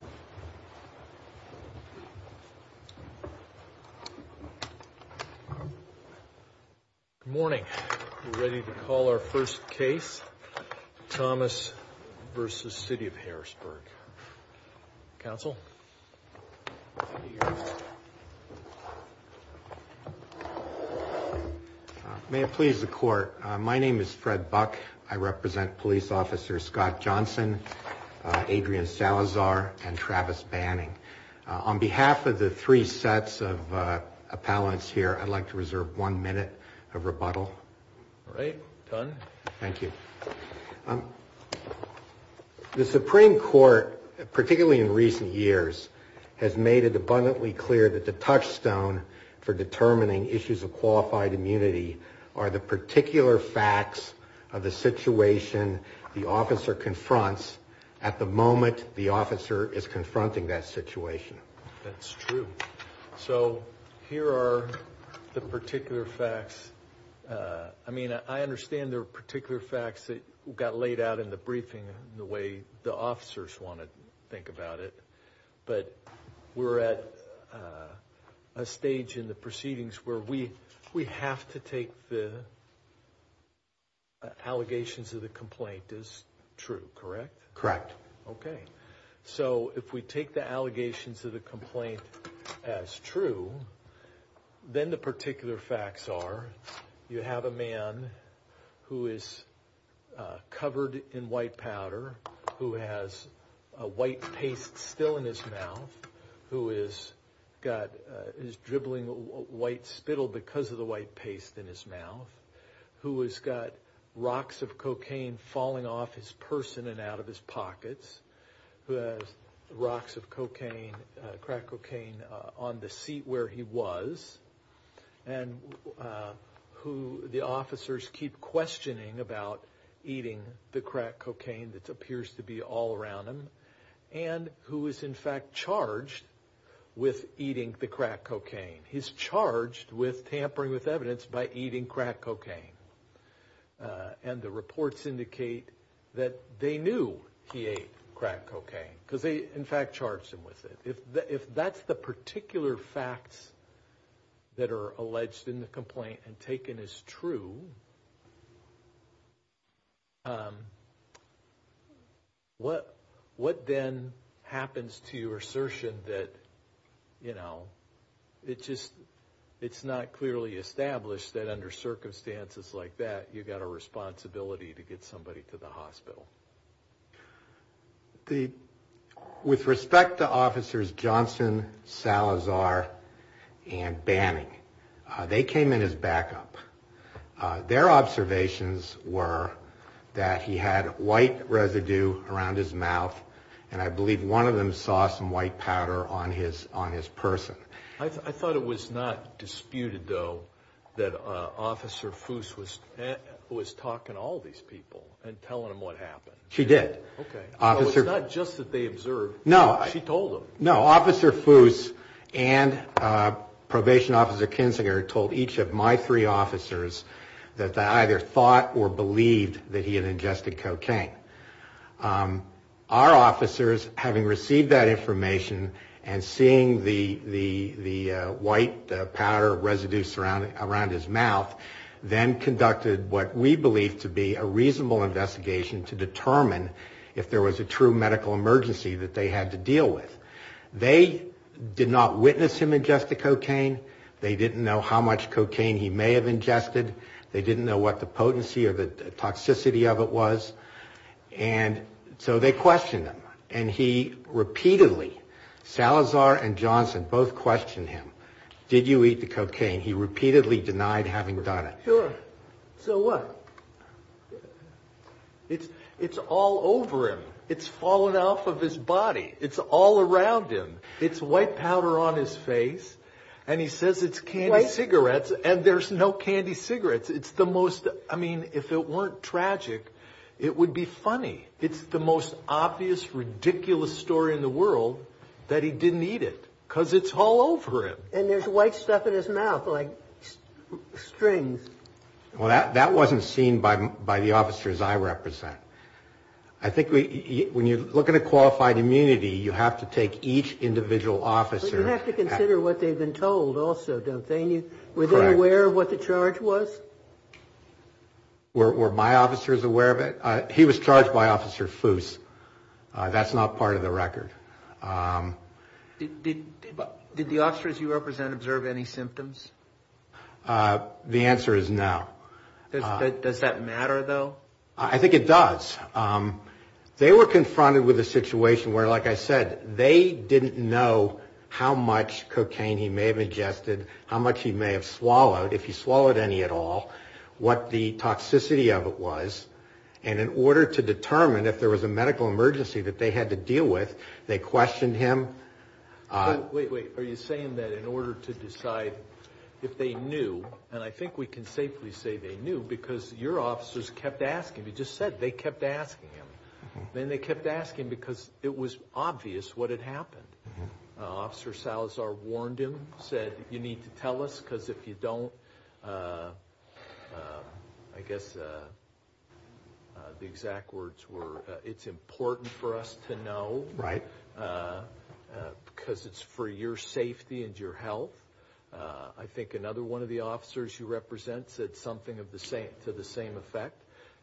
Good morning. We're ready to call our first case, Thomas v. City of Harrisburg. Council? May it please the court, my name is Fred Buck. I represent police officers Scott Johnson, Adrian Salazar, and Travis Banning. On behalf of the three sets of appellants here, I'd like to reserve one minute of rebuttal. All right, done. Thank you. The Supreme Court, particularly in recent years, has made it abundantly clear that the touchstone for determining issues of qualified immunity are the particular facts of the situation the officer confronts at the moment the officer is confronting that situation. That's true. So here are the particular facts. I mean, I understand there are particular facts that got laid out in the briefing the way the officers want to think about it, but we're at a stage in the proceedings where we we have to take the allegations of the complaint as true, correct? Correct. Okay, so if we take the allegations of the complaint as true, then the particular facts are you have a man who is covered in white powder, who has a white paste still in his mouth, who is dribbling white spittle because of the white paste in his mouth, who has got rocks of cocaine falling off his person and out of his pockets, who has rocks of cocaine, crack cocaine, on the seat where he was, and who the officers keep questioning about eating the crack cocaine that appears to be all around him, and who is, in fact, charged with eating the crack cocaine. He's charged with tampering with evidence by eating crack cocaine, and the reports indicate that they knew he ate crack cocaine because they, in fact, charged him with it. If that's the particular facts that are alleged in the case, what then happens to your assertion that, you know, it just, it's not clearly established that under circumstances like that you've got a responsibility to get somebody to the hospital? The, with respect to officers Johnson, Salazar, and Banning, they came in as backup. Their observations were that he had white residue around his mouth, and I believe one of them saw some white powder on his, on his person. I thought it was not disputed, though, that Officer Foose was talking to all these people and telling them what happened. She did. Okay. It's not just that they observed. No. She told them. No, Officer Foose and my three officers that either thought or believed that he had ingested cocaine. Our officers, having received that information and seeing the, the, the white powder residue surrounding, around his mouth, then conducted what we believe to be a reasonable investigation to determine if there was a true medical emergency that they had to deal with. They did not witness him ingest the cocaine. They didn't know how much cocaine he may have ingested. They didn't know what the potency or the toxicity of it was. And so they questioned him. And he repeatedly, Salazar and Johnson both questioned him. Did you eat the cocaine? He repeatedly denied having done it. Sure. So what? It's, it's all over him. It's fallen off his body. It's all around him. It's white powder on his face and he says it's candy cigarettes and there's no candy cigarettes. It's the most, I mean, if it weren't tragic, it would be funny. It's the most obvious, ridiculous story in the world that he didn't eat it because it's all over him. And there's white stuff in his mouth, like strings. Well, that, that wasn't seen by, by the officers I represent. I think when you look at a qualified immunity, you have to take each individual officer. You have to consider what they've been told also, don't they? Were they aware of what the charge was? Were, were my officers aware of it? He was charged by Officer Foose. That's not part of the record. Did, did, did the officers you represent observe any symptoms? The answer is no. Does that matter though? I think it does. They were confronted with a situation where, like I said, they didn't know how much cocaine he may have ingested, how much he may have swallowed, if he swallowed any at all, what the toxicity of it was. And in order to determine if there was a medical emergency that they had to deal with, they questioned him. Wait, wait, are you saying that in order to decide if they knew, and I think we can safely say they knew because your officers kept asking, you just said they kept asking him. Then they kept asking because it was obvious what had happened. Officer Salazar warned him, said, you need to tell us because if you don't, I guess the exact words were, it's important for us to know. Right. Because it's for your safety and your health. I think another one of the officers you represent said something of the same, to the same effect.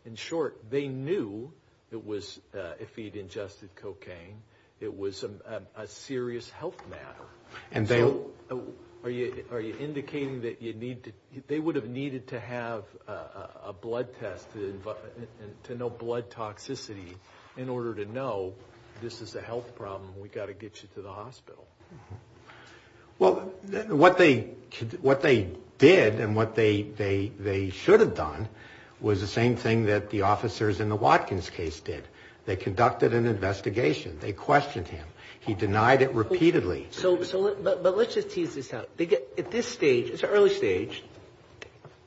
In short, they knew it was, if he'd ingested cocaine, it was a serious health matter. And are you, are you indicating that you need to, they would have needed to have a blood test to know blood toxicity in order to know this is a health problem and we've got to get you to the hospital? Well, what they did and what they should have done was the same thing that the officers in the Watkins case did. They conducted an investigation. They questioned him. He denied it repeatedly. So, but let's just tease this out. At this stage, it's an early stage.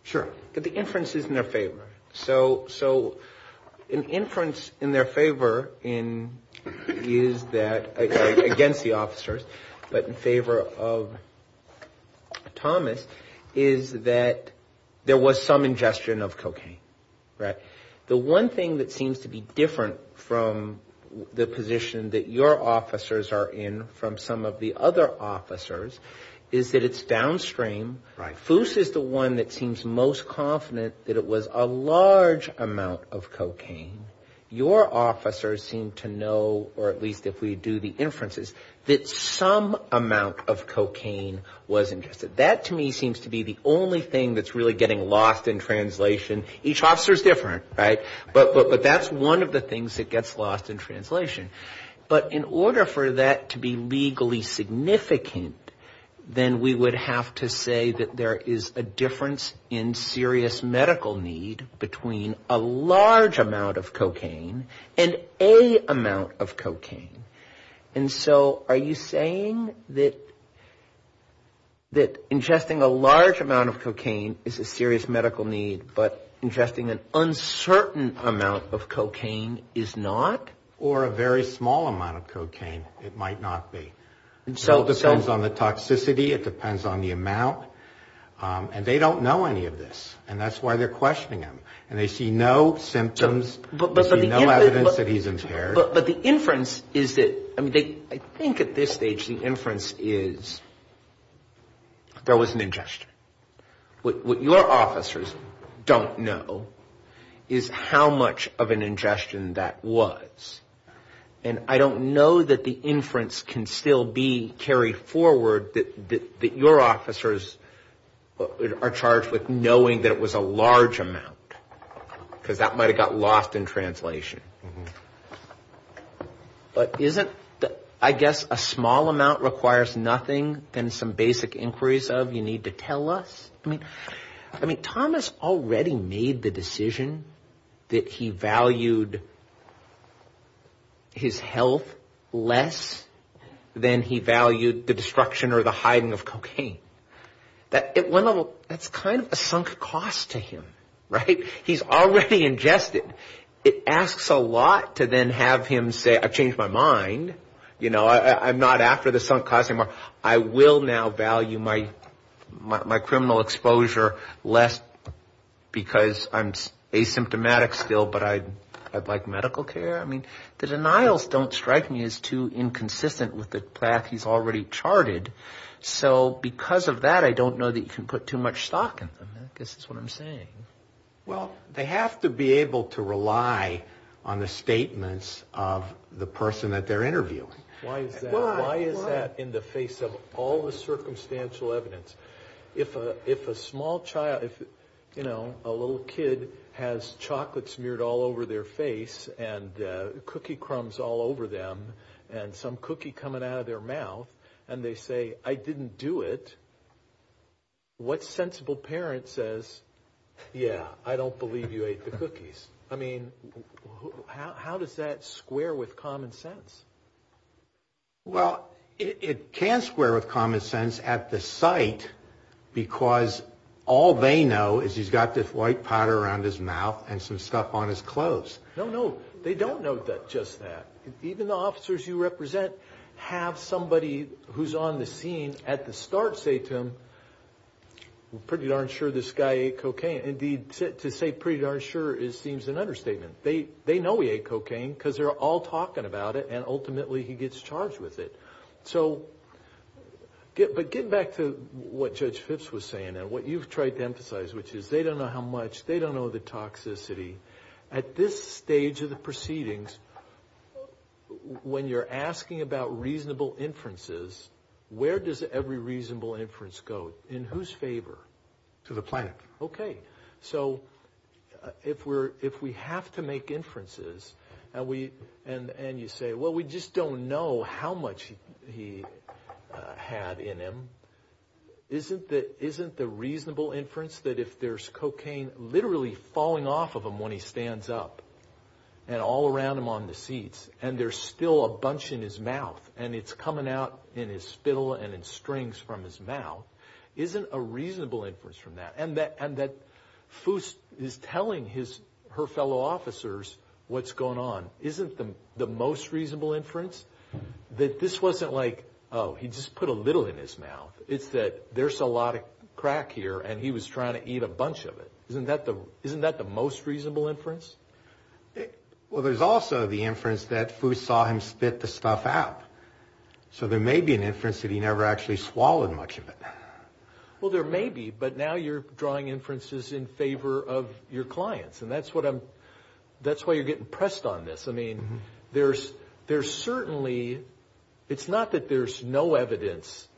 Sure. But the inference is in their favor. So, so an inference in their favor is that, against the officers, but in favor of Thomas, is that there was some ingestion of cocaine. Right. The one thing that seems to be different from the position that your officers are in from some of the other officers is that it's downstream. FUS is the one that seems most confident that it was a large amount of cocaine. Your officers seem to know, or at least if we do the inferences, that some amount of cocaine was ingested. That to me seems to be the only thing that's really getting lost in translation. Each officer is different, right? But that's one of the things that gets lost in translation. But in order for that to be legally significant, then we would have to say that there is a difference in serious medical need between a large amount of cocaine and a amount of cocaine. And so are you saying that ingesting a large amount of cocaine is a serious medical need, but ingesting an uncertain amount of cocaine is not? Or a very small amount of cocaine, it might not be. It all depends on the toxicity. It depends on the amount. And they don't know any of this, and that's why they're questioning him. And they see no symptoms, no evidence that he's impaired. But the inference is that, I mean, I think at this stage the inference is there was an ingestion. What your ingestion that was. And I don't know that the inference can still be carried forward that your officers are charged with knowing that it was a large amount. Because that might have got lost in translation. But isn't, I guess, a small amount requires nothing than some basic inquiries of you to tell us. I mean, Thomas already made the decision that he valued his health less than he valued the destruction or the hiding of cocaine. That's kind of a sunk cost to him, right? He's already ingested. It asks a lot to then have him say, I've changed my mind. I'm not after the sunk cost anymore. I will now value my criminal exposure less because I'm asymptomatic still, but I'd like medical care. I mean, the denials don't strike me as too inconsistent with the path he's already charted. So because of that, I don't know that you can put too much stock in them. I guess that's what I'm saying. Well, they have to be able to rely on the statements of the person that they're interviewing. Why is that? Why is that in the face of all the circumstantial evidence? If a small child, you know, a little kid has chocolate smeared all over their face and cookie crumbs all over them and some cookie coming out of their mouth and they say, I didn't do it, what sensible parent says, yeah, I don't believe you ate the cookies? I mean, how does that square with common sense? Well, it can square with common sense at the site, because all they know is he's got this white powder around his mouth and some stuff on his clothes. No, no, they don't know that just that. Even the officers you represent have somebody who's on the scene at the start say to him, I'm pretty darn sure this guy ate cocaine. Indeed, to say pretty darn sure is seems an understatement. They know he ate cocaine because they're all talking about it and ultimately he gets charged with it. So, but getting back to what Judge Phipps was saying and what you've tried to emphasize, which is they don't know how much, they don't know the toxicity. At this stage of the proceedings, when you're asking about reasonable inferences, where does every reasonable inference go? In whose favor? To the planet. Okay. So, if we have to make inferences and you say, well, we just don't know how much he had in him, isn't the reasonable inference that if there's cocaine literally falling off of him when he stands up and all around him on the seats and there's still a bunch in his mouth and it's coming out in his spittle and in strings from his mouth, isn't a reasonable inference from that? And that Foose is telling his, her fellow officers what's going on. Isn't the most reasonable inference that this wasn't like, oh, he just put a little in his mouth. It's that there's a lot of crack here and he was trying to eat a bunch of it. Isn't that the most reasonable inference? Well, there's also the inference that Foose saw him spit the stuff out. So, there may be an inference that he never actually swallowed much of it. Well, there may be, but now you're drawing inferences in favor of your clients. And that's what I'm, that's why you're getting pressed on this. I mean, there's certainly, it's not that there's no evidence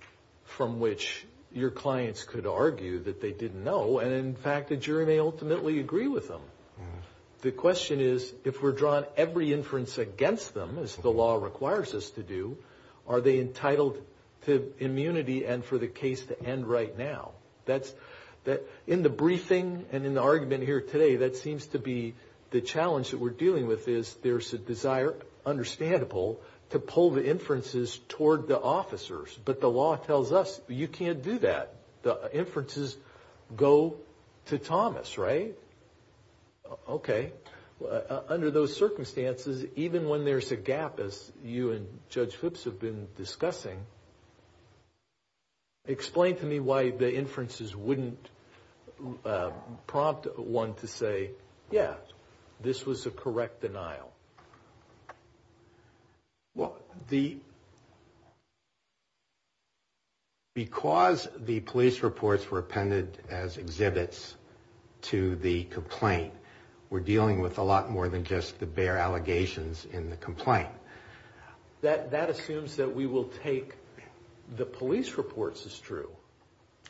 from which your clients could argue that they didn't know. And in fact, the jury may ultimately agree with them. The question is, if we're drawn every inference against them, as the law requires us to do, are they entitled to immunity and for the case to end right now? That's that in the briefing and in the argument here today, that seems to be the challenge that we're dealing with is there's a desire, understandable, to pull the inferences toward the officers. But the law tells us you can't do that. The inferences go to Thomas, right? Okay. Under those circumstances, even when there's a gap, as you and Judge Phipps have been discussing, explain to me why the inferences wouldn't prompt one to say, yeah, this was a correct denial. Well, the, because the police reports were appended as exhibits to the complaint, we're dealing with a lot more than just the bare allegations in the complaint. That assumes that we will take the police reports as true.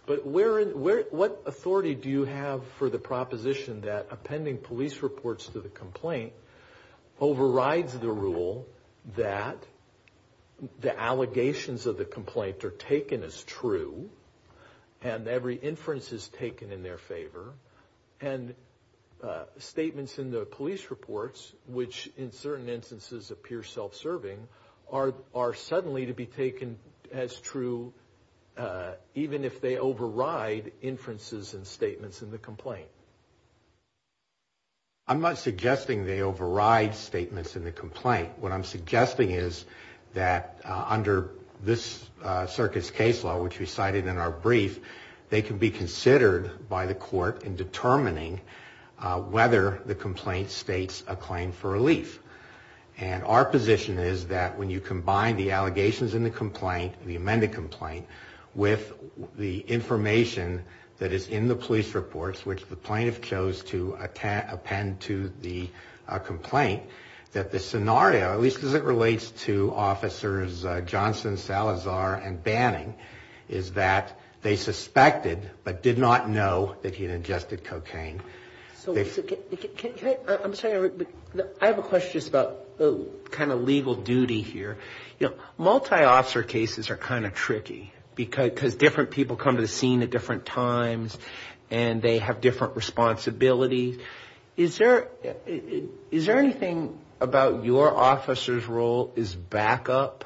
But where, what authority do you have for the proposition that appending are taken as true and every inference is taken in their favor and statements in the police reports, which in certain instances appear self-serving, are suddenly to be taken as true, even if they override inferences and statements in the complaint? I'm not suggesting they override statements in the complaint. What I'm suggesting is that under this circuit's case law, which we cited in our brief, they can be considered by the court in determining whether the complaint states a claim for relief. And our position is that when you combine the allegations in the complaint, the amended complaint, with the information that is in the police reports, which the plaintiff chose to append to the complaint, that the scenario, at least as it relates to officers Johnson, Salazar, and Banning, is that they suspected but did not know that he had ingested cocaine. So, can I, I'm sorry, I have a question just about the kind of legal duty here. You know, multi-officer cases are kind of tricky because different people come to the scene at different times and they have different responsibilities. Is there anything about your officer's role as backup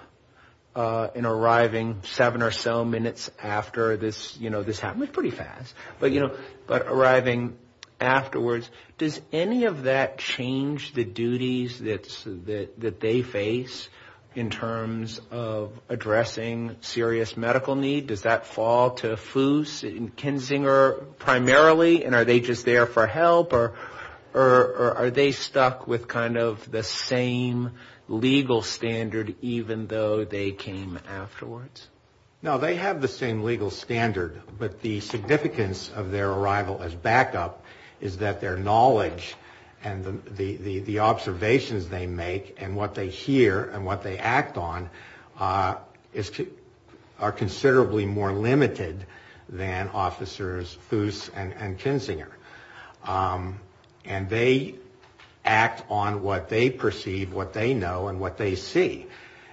in arriving seven or so minutes after this, you know, this happened pretty fast, but you know, but arriving afterwards, does any of that change the duties that they face in terms of addressing serious medical need? Does that fall to Fuse and Kinzinger primarily, and are they just there for help, or are they stuck with kind of the same legal standard even though they came afterwards? No, they have the same legal standard, but the significance of their arrival as backup is that their knowledge and the observations they make and what they hear and what they act on is, are considerably more limited than officers Fuse and Kinzinger, and they act on what they perceive, what they know, and what they see,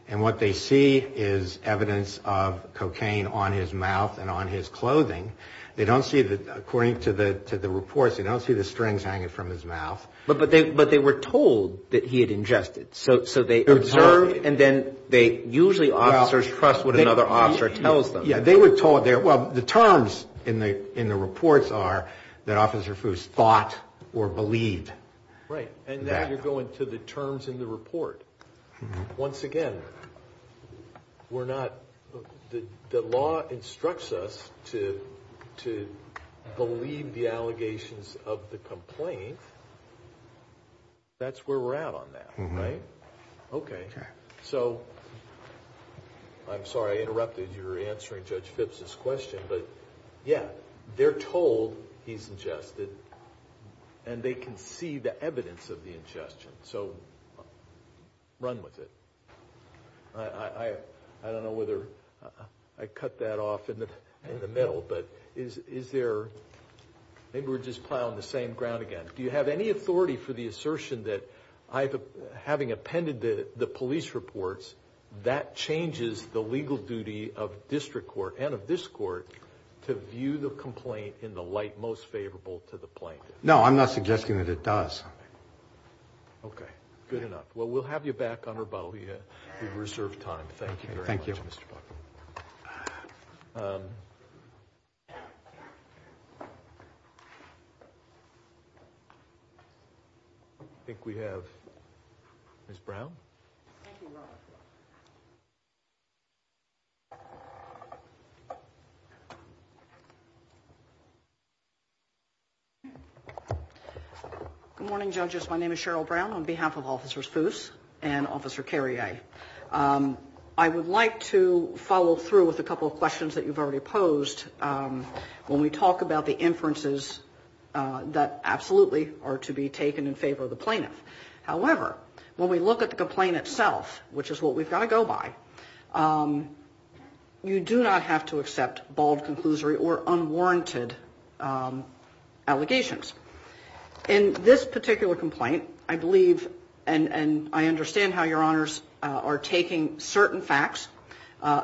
and what they see is evidence of cocaine on his mouth and on his clothing. They don't see, according to the reports, they don't see the strings hanging from his mouth. But they were told that he had ingested, so they observe, and then they, usually officers trust what another officer tells them. Yeah, they were told, well, the terms in the reports are that Officer Fuse thought or believed. Right, and now you're going to the terms in the report. Once again, we're not, the law instructs us to believe the allegations of the complaint, that's where we're at on that, right? Okay, so, I'm sorry I interrupted, you were answering Judge Phipps' question, but yeah, they're told he's ingested and they can see the evidence of the ingestion, so run with it. I don't know whether, I cut that off in the middle, but is there, maybe we're just plowing the same ground again. Do you have any authority for the assertion that, having appended the police reports, that changes the legal duty of district court and of this court to view the complaint in the light most favorable to the plaintiff? No, I'm not suggesting that it does. Okay, good enough. Well, we'll have you back on reserve time. Thank you very much, Mr. Buckley. I think we have Ms. Brown. Good morning, judges. My name is Cheryl Brown on behalf of Officers Fuse and Officer Carrier. I would like to follow through with a couple of questions that you've already posed when we talk about the inferences that absolutely are to be taken in favor of the plaintiff. However, when we look at the complaint itself, which is what we've got to go by, you do not have to accept bald conclusory or unwarranted allegations. In this particular complaint, I believe, and I understand how your honors are taking certain facts,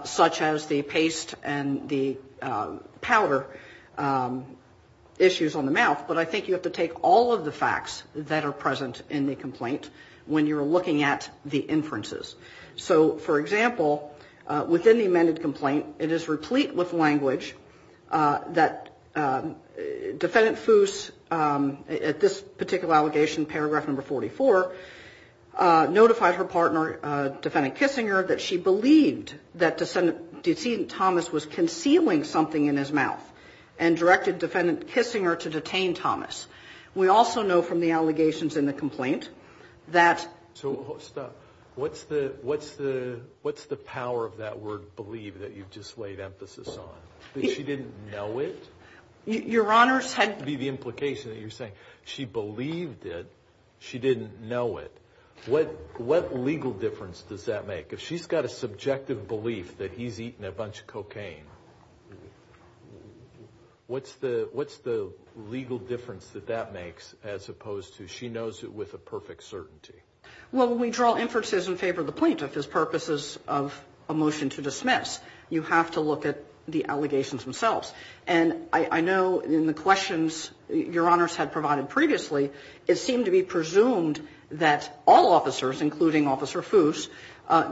such as the paste and the powder issues on the mouth, but I think you have to take all of the facts that are present in the complaint when you're looking at the inferences. So, for example, within the amended complaint, it is replete with language that Defendant Fuse, at this particular allegation, paragraph number 44, notified her partner, Defendant Kissinger, that she believed that Defendant Thomas was concealing something in his mouth and directed Defendant Kissinger to detain Thomas. We also know from the allegations in the complaint that... So, stop. What's the power of that word believe that you've just know it? Your honors had... To be the implication that you're saying she believed it, she didn't know it. What legal difference does that make? If she's got a subjective belief that he's eaten a bunch of cocaine, what's the legal difference that that makes as opposed to she knows it with a perfect certainty? Well, when we draw inferences in favor of the plaintiff, his purposes of a motion to dismiss, you have to look at the allegations themselves. And I know in the questions your honors had provided previously, it seemed to be presumed that all officers, including Officer Fuse,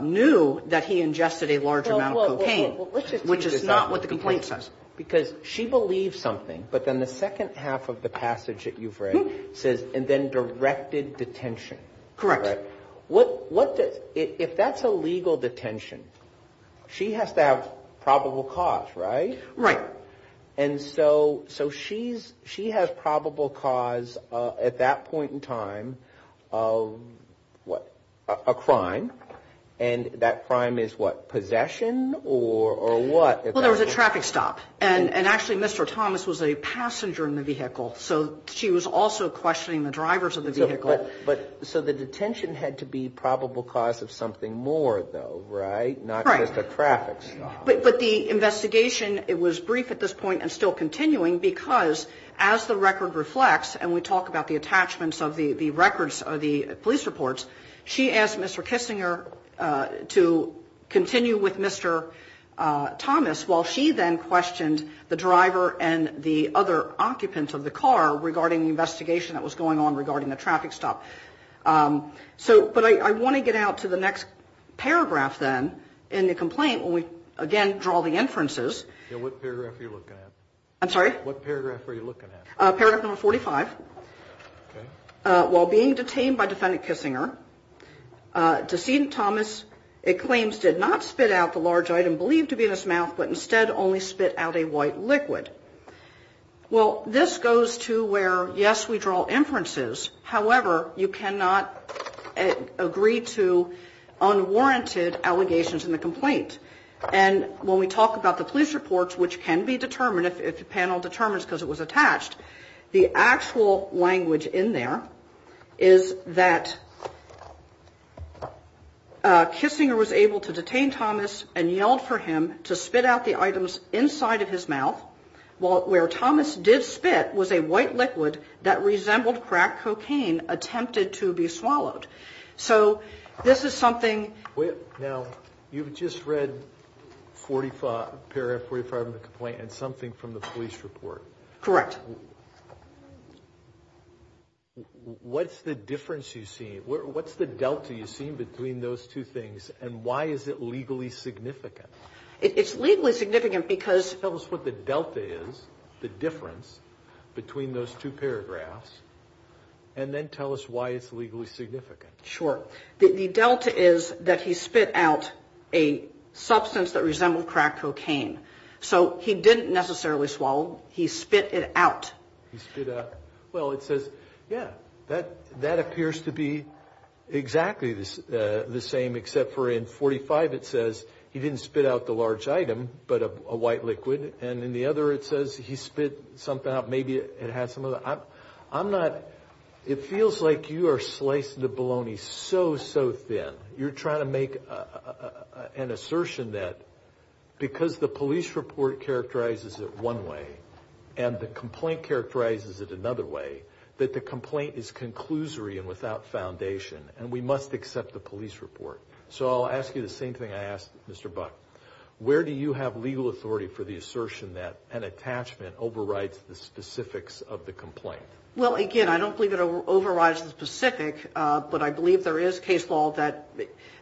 knew that he ingested a large amount of cocaine, which is not what the complaint says. Because she believes something, but then the second half of the passage that you've read says, and then directed detention. Correct. What does... If that's a legal detention, she has to have probable cause, right? Right. And so, she has probable cause at that point in time of what? A crime. And that crime is what? Possession or what? Well, there was a traffic stop. And actually, Mr. Thomas was a passenger in the vehicle. So, she was also questioning the drivers of the vehicle. So, the detention had to be probable cause of something more though, right? Not just a traffic stop. But the investigation, it was brief at this point and still continuing because as the record reflects, and we talk about the attachments of the records of the police reports, she asked Mr. Kissinger to continue with Mr. Thomas while she then questioned the driver and the other occupant of the car regarding the investigation that was going on regarding the traffic stop. But I want to get out to the next paragraph then in the complaint when we, again, draw the inferences. What paragraph are you looking at? I'm sorry? What paragraph are you looking at? Paragraph number 45. While being detained by defendant Kissinger, decedent Thomas, it claims, did not spit out the large item believed to be in his mouth, but instead only spit out a white liquid. Well, this goes to where, yes, we draw inferences. However, you cannot agree to unwarranted allegations in the complaint. And when we talk about the police reports, which can be determined if the panel determines because it was attached, the actual language in there is that Kissinger was able to detain Thomas and yelled for him to spit out the items inside of his mouth where Thomas did spit was a white liquid that resembled crack cocaine attempted to be swallowed. So this is something... Now, you've just read paragraph 45 of the complaint and something from the police report. Correct. What's the difference you see? What's the delta you see between those two things? And why is it legally significant? It's legally significant because... Tell us what the delta is, the difference between those two paragraphs, and then tell us why it's sure that the delta is that he spit out a substance that resembled crack cocaine. So he didn't necessarily swallow. He spit it out. He spit out. Well, it says, yeah, that that appears to be exactly the same, except for in 45, it says he didn't spit out the large item, but a white liquid. And in the other, it says he spit something out. Maybe it has some of that. I'm not... It feels like you are slicing the bologna so, so thin. You're trying to make an assertion that because the police report characterizes it one way and the complaint characterizes it another way, that the complaint is conclusory and without foundation, and we must accept the police report. So I'll ask you the same thing I asked Mr. Buck. Where do you have legal authority for the assertion that an attachment overrides the specifics of the complaint? Well, again, I don't believe it overrides the specific, but I believe there is case law that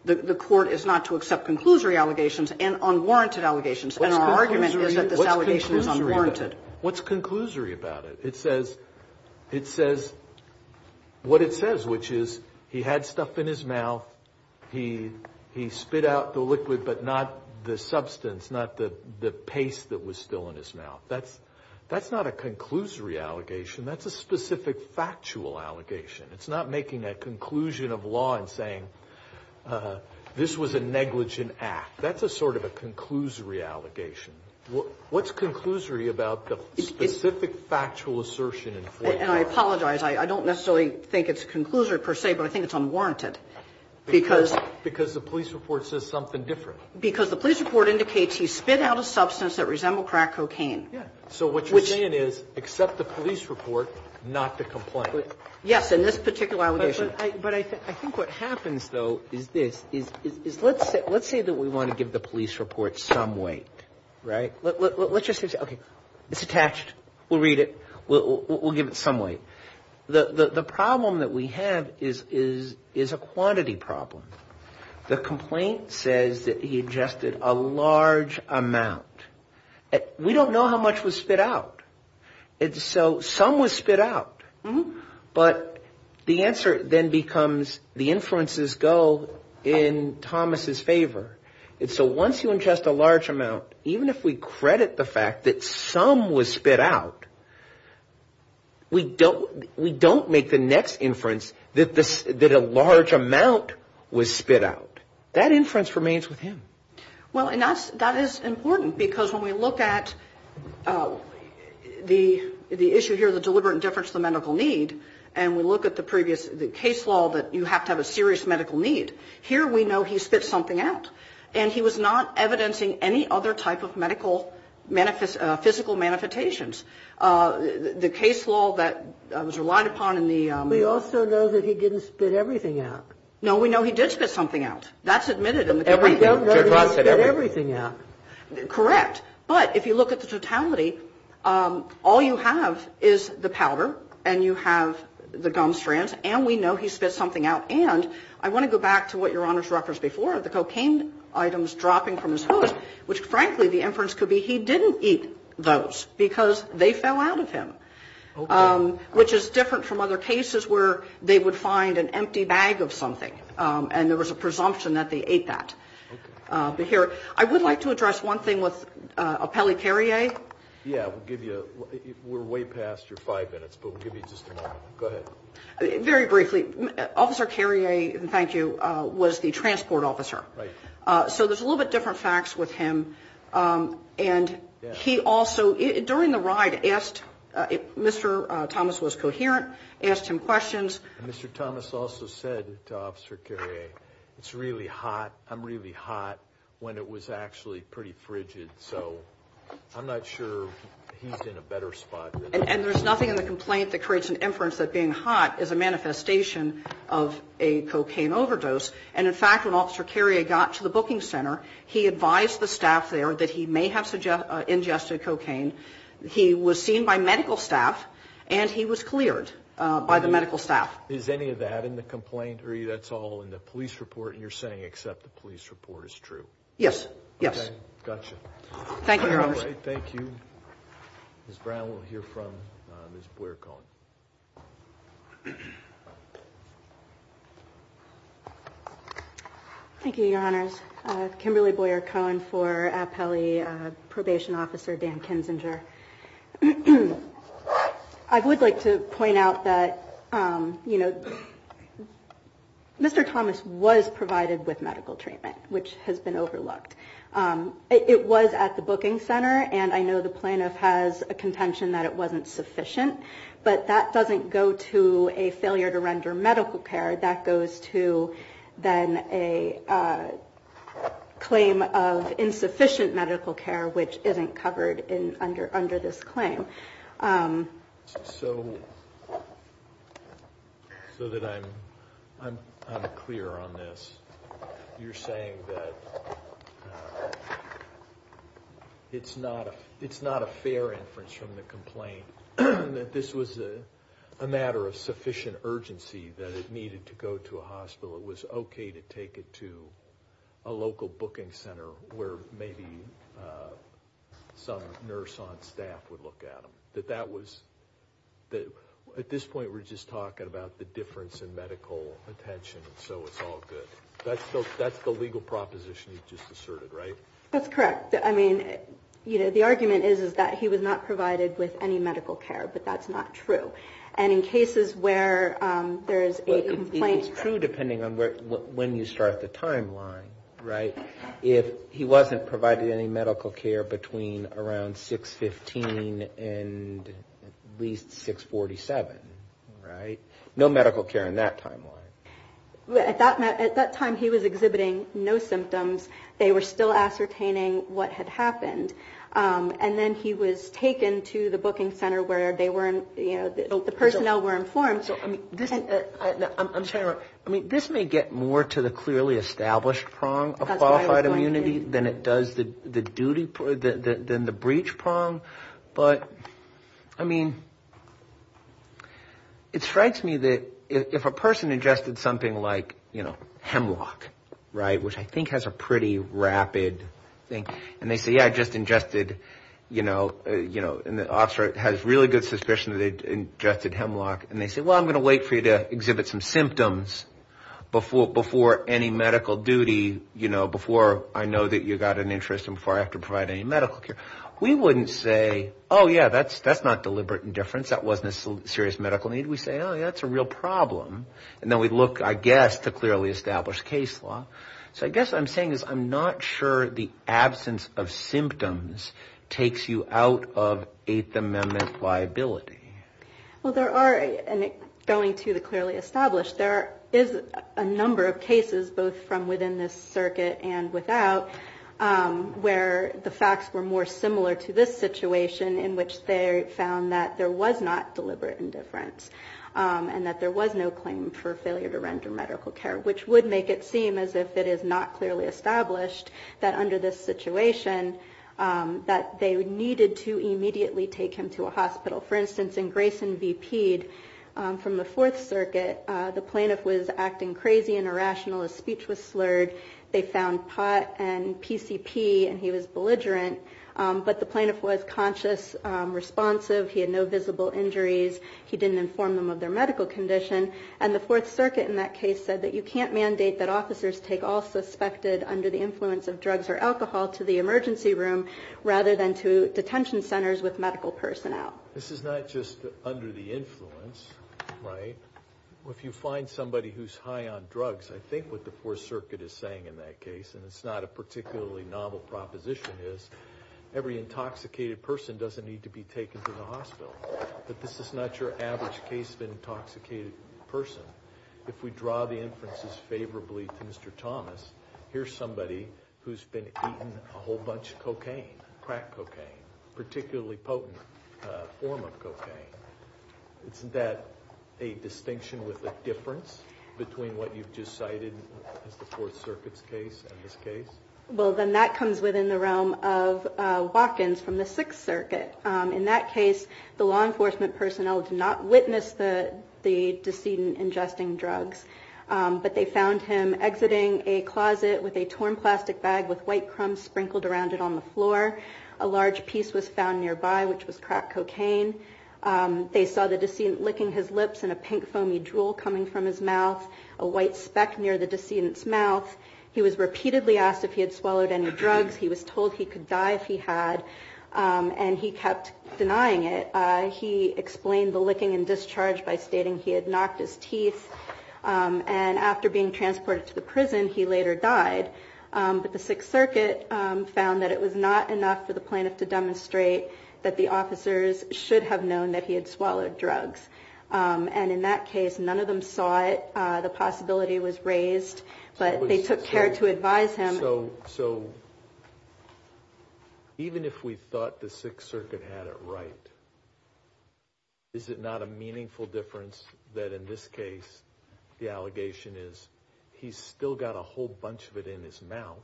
the court is not to accept conclusory allegations and unwarranted allegations. And our argument is that this allegation is unwarranted. What's conclusory about it? What it says, which is he had stuff in his mouth. That's not a conclusory allegation. That's a specific, factual allegation. It's not making a conclusion of law and saying this was a negligent act. That's a sort of a conclusory allegation. What's conclusory about the specific, factual assertion? And I apologize. I don't necessarily think it's a conclusory per se, but I think it's unwarranted. Because... Because the police report says something different. Because the police report indicates he spit out a substance that resembled crack cocaine. Yeah. So what you're saying is, accept the police report, not the complaint. Yes, in this particular allegation. But I think what happens, though, is this. Let's say that we want to give the police report some weight, right? Let's just say, okay, it's attached. We'll read it. We'll give it some weight. The problem that we have is a quantity problem. The complaint says that he ingested a large amount. We don't know how much was spit out. So some was spit out. But the answer then becomes, the influences go in Thomas' favor. And so once you ingest a large amount, even if we credit the fact that some was spit out, we don't make the next inference that a large amount was spit out. That inference remains with him. Well, and that is important. Because when we look at the issue here, the deliberate difference to the medical need, and we look at the previous case law that you have to have a serious medical need, here we know he spit something out. And he was not evidencing any other type of medical physical manifestations. The case law that was relied upon in the... We also know that he didn't spit everything out. No, we know he did spit something out. That's admitted in the... We don't know he didn't spit everything out. Correct. But if you look at the totality, all you have is the powder and you have the gum strands, and we know he spit something out. And I want to go back to what Your Honor's referenced before, the cocaine items dropping from his hood, which, frankly, the inference could be he didn't eat those because they fell out of him. Okay. Which is different from other cases where they would find an empty bag of something, and there was a presumption that they ate that. Okay. But here, I would like to address one thing with Appelli-Carrie. Yeah, we'll give you, we're way past your five minutes, but we'll give you just a moment. Go ahead. Very briefly, Officer Carrier, thank you, was the transport officer. Right. So there's a little bit different facts with him, and he also, during the ride, asked... Mr. Thomas was coherent, asked him questions. Mr. Thomas also said to Officer Carrier, it's really hot, I'm really hot when it was actually pretty frigid, so I'm not sure he's in a better spot. And there's nothing in the complaint that creates an inference that being hot is a manifestation of a cocaine overdose, and in fact, when Officer Carrier got to the booking center, he advised the staff there that he may have ingested cocaine. He was seen by medical staff, and he was cleared by the medical staff. Is any of that in the complaint, or that's all in the police report, and you're saying except the police report is true? Yes. Yes. Gotcha. Thank you, Your Honors. Thank you. Ms. Brown, we'll hear from Ms. Boyer-Cohen. Thank you, Your Honors. Kimberly Boyer-Cohen for Appellee Probation Officer Dan Kinzinger. I would like to point out that Mr. Thomas was provided with medical treatment, which has been overlooked. It was at the booking center, and I know the plaintiff has a contention that it wasn't sufficient, but that doesn't go to a failure to render medical care. That goes to then a claim of insufficient medical care, which isn't covered under this claim. So that I'm clear on this, you're saying that it's not a fair inference from the complaint, that this was a matter of sufficient urgency that it needed to go to a hospital. It was okay to take it to a local booking center where maybe some nurse on staff would look at it. That was, at this point, we're just talking about the difference in medical attention, and so it's all good. That's the legal proposition you've just asserted, right? That's correct. I mean, you know, the argument is that he was not provided with any medical care, but that's not true. And in cases where there is a complaint- It's true depending on when you start the timeline, right? If he wasn't provided any medical care between around 6-15 and at least 6-47, right? No medical care in that timeline. At that time, he was exhibiting no symptoms. They were still ascertaining what had happened. And then he was taken to the booking center where they were, you know, the personnel were informed. So, I mean, I'm sorry. I mean, this may get more to the clearly established prong of qualified immunity than it does the duty, than the breach prong. But, I mean, it strikes me that if a person ingested something like, you know, hemlock, right, which I think has a pretty rapid thing. And they say, yeah, I just ingested, you know, and the officer has really good suspicion that they ingested hemlock. And they say, well, I'm going to wait for you to exhibit some symptoms before any medical duty, you know, before I know that you got an interest and before I have to provide any medical care. We wouldn't say, oh, yeah, that's not deliberate indifference. That wasn't a serious medical need. We say, oh, yeah, that's a real problem. And then we look, I guess, to clearly establish case law. So, I guess what I'm saying is I'm not sure the absence of symptoms takes you out of Eighth Amendment liability. Well, there are, and going to the clearly established, there is a number of cases both from within this circuit and without where the facts were more similar to this situation in which they found that there was not deliberate indifference and that there was no claim for failure to render medical care, which would make it seem as if it is not clearly established that under this situation that they needed to immediately take him to a hospital. For instance, in Grayson v. Pede from the Fourth Circuit, the plaintiff was acting crazy and irrational. His speech was slurred. They found pot and PCP, and he was belligerent. But the plaintiff was conscious, responsive. He had no visible injuries. He didn't inform them of their medical condition. And the Fourth Circuit in that case said that you can't mandate that officers take all suspected under the influence of drugs or alcohol to the emergency room rather than to detention centers with medical personnel. This is not just under the influence, right? If you find somebody who's high on drugs, I think what the Fourth Circuit is saying in that case, and it's not a particularly novel proposition, is every intoxicated person doesn't need to be taken to the hospital. But this is not your average case of an intoxicated person. If we draw the inferences favorably to Mr. Thomas, here's somebody who's been eating a whole bunch of cocaine, crack cocaine, particularly potent form of cocaine. Isn't that a distinction with a difference between what you've just cited as the Fourth Circuit's case and this case? Well, then that comes within the realm of Watkins from the Sixth Circuit. In that case, the law enforcement personnel did not witness the decedent ingesting drugs. But they found him exiting a closet with a torn plastic bag with white crumbs sprinkled around it on the floor. A large piece was found nearby, which was crack cocaine. They saw the decedent licking his lips and a pink foamy drool coming from his mouth, a white speck near the decedent's mouth. He was repeatedly asked if he had swallowed any drugs. He was told he could die if he had, and he kept denying it. He explained the licking and discharge by stating he had knocked his teeth. And after being transported to the prison, he later died. But the Sixth Circuit found that it was not enough for the plaintiff to demonstrate that the officers should have known that he had swallowed drugs. And in that case, none of them saw it. The possibility was raised, but they took care to advise him. So even if we thought the Sixth Circuit had it right, is it not a meaningful difference that in this case, the allegation is he's still got a whole bunch of it in his mouth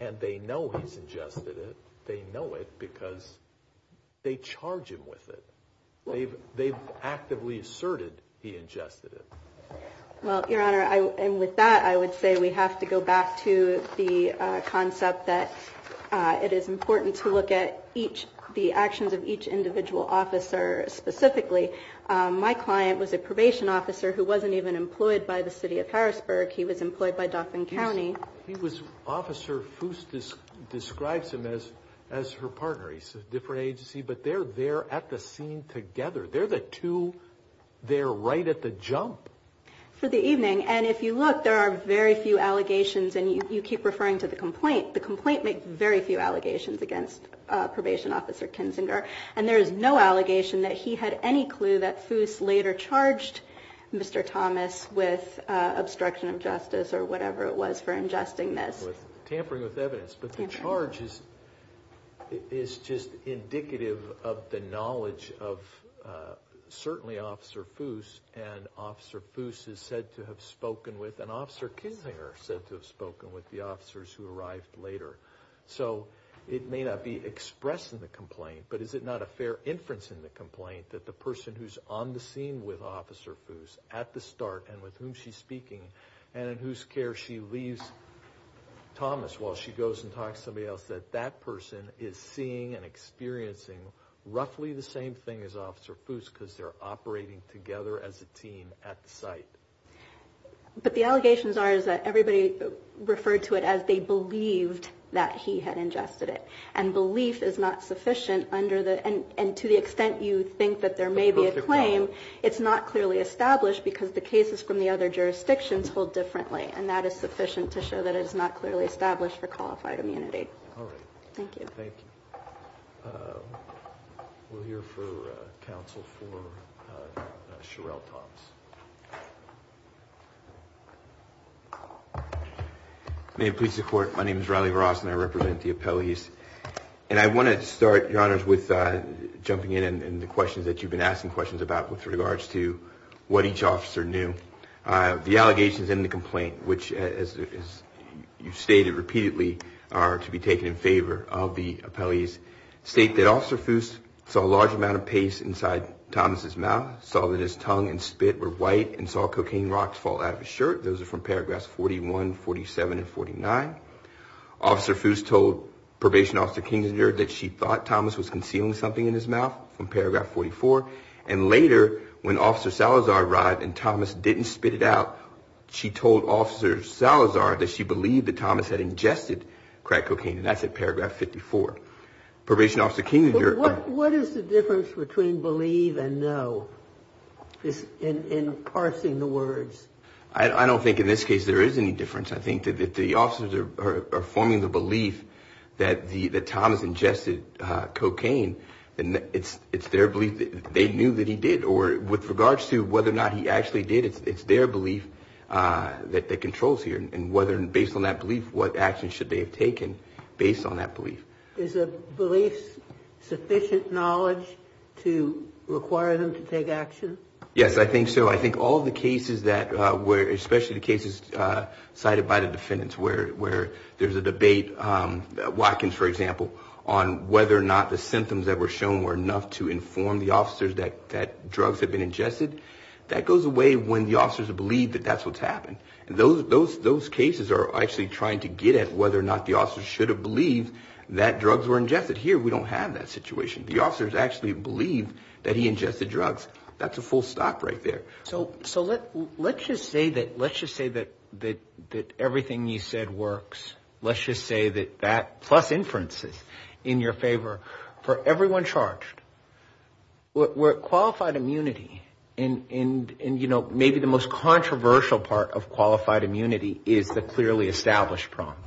and they know he's ingested it? They know it because they charge him with it. They've actively asserted he ingested it. Well, Your Honor, and with that, I would say we have to go back to the concept that it is important to look at the actions of each individual officer specifically. My client was a probation officer who wasn't even employed by the city of Harrisburg. He was employed by Dauphin County. He was, Officer Foos describes him as her partner. He's a different agency, but they're there at the scene together. They're the two, they're right at the jump. For the evening. And if you look, there are very few allegations. And you keep referring to the complaint. The complaint makes very few allegations against probation officer Kinzinger. And there is no allegation that he had any clue that Foos later charged Mr. Thomas with obstruction of justice or whatever it was for ingesting this. Tampering with evidence. But the charge is just indicative of the knowledge of certainly Officer Foos. And Officer Foos is said to have spoken with, and Officer Kinzinger said to have spoken with the officers who arrived later. So it may not be expressed in the complaint, but is it not a fair inference in the complaint that the person who's on the scene with Officer Foos at the start and with whom she's speaking and in whose care she leaves Thomas while she goes and talks to somebody else, that that person is seeing and experiencing roughly the same thing as Officer Foos because they're operating together as a team at the site. But the allegations are is that everybody referred to it as they believed that he had ingested it. And belief is not sufficient under the, and to the extent you think that there may be a claim, it's not clearly established because the cases from the other jurisdictions hold differently. And that is sufficient to show that it is not clearly established for qualified immunity. All right. Thank you. Thank you. We'll hear for counsel for Sherelle Thomas. May it please the court. My name is Riley Ross and I represent the appellees. And I want to start, your honors, with jumping in and the questions that you've been asking questions about with regards to what each officer knew. The allegations in the complaint, which as you've stated repeatedly are to be taken in favor of the appellees, state that Officer Foos saw a large amount of paste inside Thomas's mouth, saw that his tongue and spit were white, and saw cocaine rocks fall out of his shirt. Those are from paragraphs 41, 47, and 49. Officer Foos told Probation Officer Kingsinger that she thought Thomas was concealing something in his mouth from paragraph 44. And later, when Officer Salazar arrived and Thomas didn't spit it out, she told Officer Salazar that she believed that Thomas had ingested crack cocaine. And that's at paragraph 54. Probation Officer Kingsinger. What is the difference between believe and know in parsing the words? I don't think in this case there is any difference. I think that the officers are forming the belief that Thomas ingested cocaine. And it's their belief that they knew that he did. Or with regards to whether or not he actually did, it's their belief that controls here. And based on that belief, what action should they have taken based on that belief? Is a belief sufficient knowledge to require them to take action? Yes, I think so. I think all the cases that were, especially the cases cited by the defendants, where there's a debate, Watkins, for example, on whether or not the symptoms that were shown were enough to inform the officers that drugs had been ingested, that goes away when the officers believe that that's what's happened. And those cases are actually trying to get at whether or not the officers should have that drugs were ingested. Here, we don't have that situation. The officers actually believe that he ingested drugs. That's a full stop right there. So let's just say that everything you said works. Let's just say that that, plus inferences in your favor, for everyone charged, where qualified immunity and maybe the most controversial part of qualified immunity is the clearly established problem.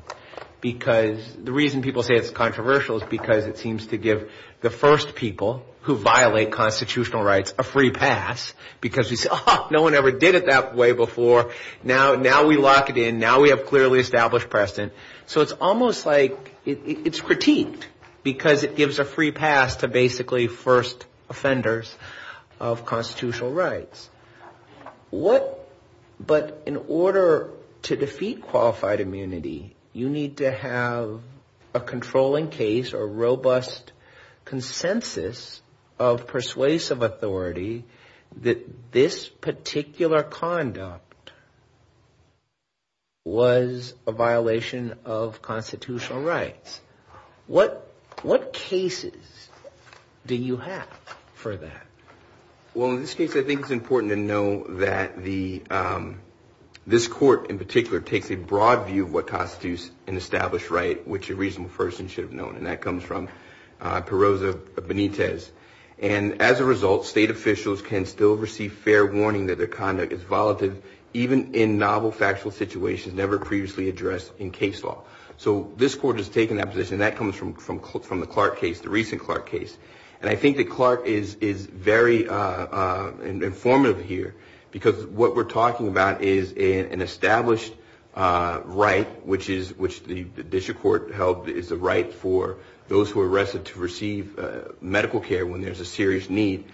Because the reason people say it's controversial is because it seems to give the first people who violate constitutional rights a free pass because we say, oh, no one ever did it that way before. Now we lock it in. Now we have clearly established precedent. So it's almost like it's critiqued because it gives a free pass to basically first offenders of constitutional rights. But in order to defeat qualified immunity, you need to have a controlling case or robust consensus of persuasive authority that this particular conduct was a violation of constitutional rights. What cases do you have for that? Well, in this case, I think it's important to know that this court in particular takes a broad view of what constitutes an established right, which a reasonable person should have known. And that comes from Perroza Benitez. And as a result, state officials can still receive fair warning that their conduct is volatile, even in novel factual situations never previously addressed in case law. So this court has taken that position. That comes from the Clark case, the recent Clark case. And I think that Clark is very informative here because what we're talking about is an established right, which the district court held is the right for those who are arrested to receive medical care when there's a serious need.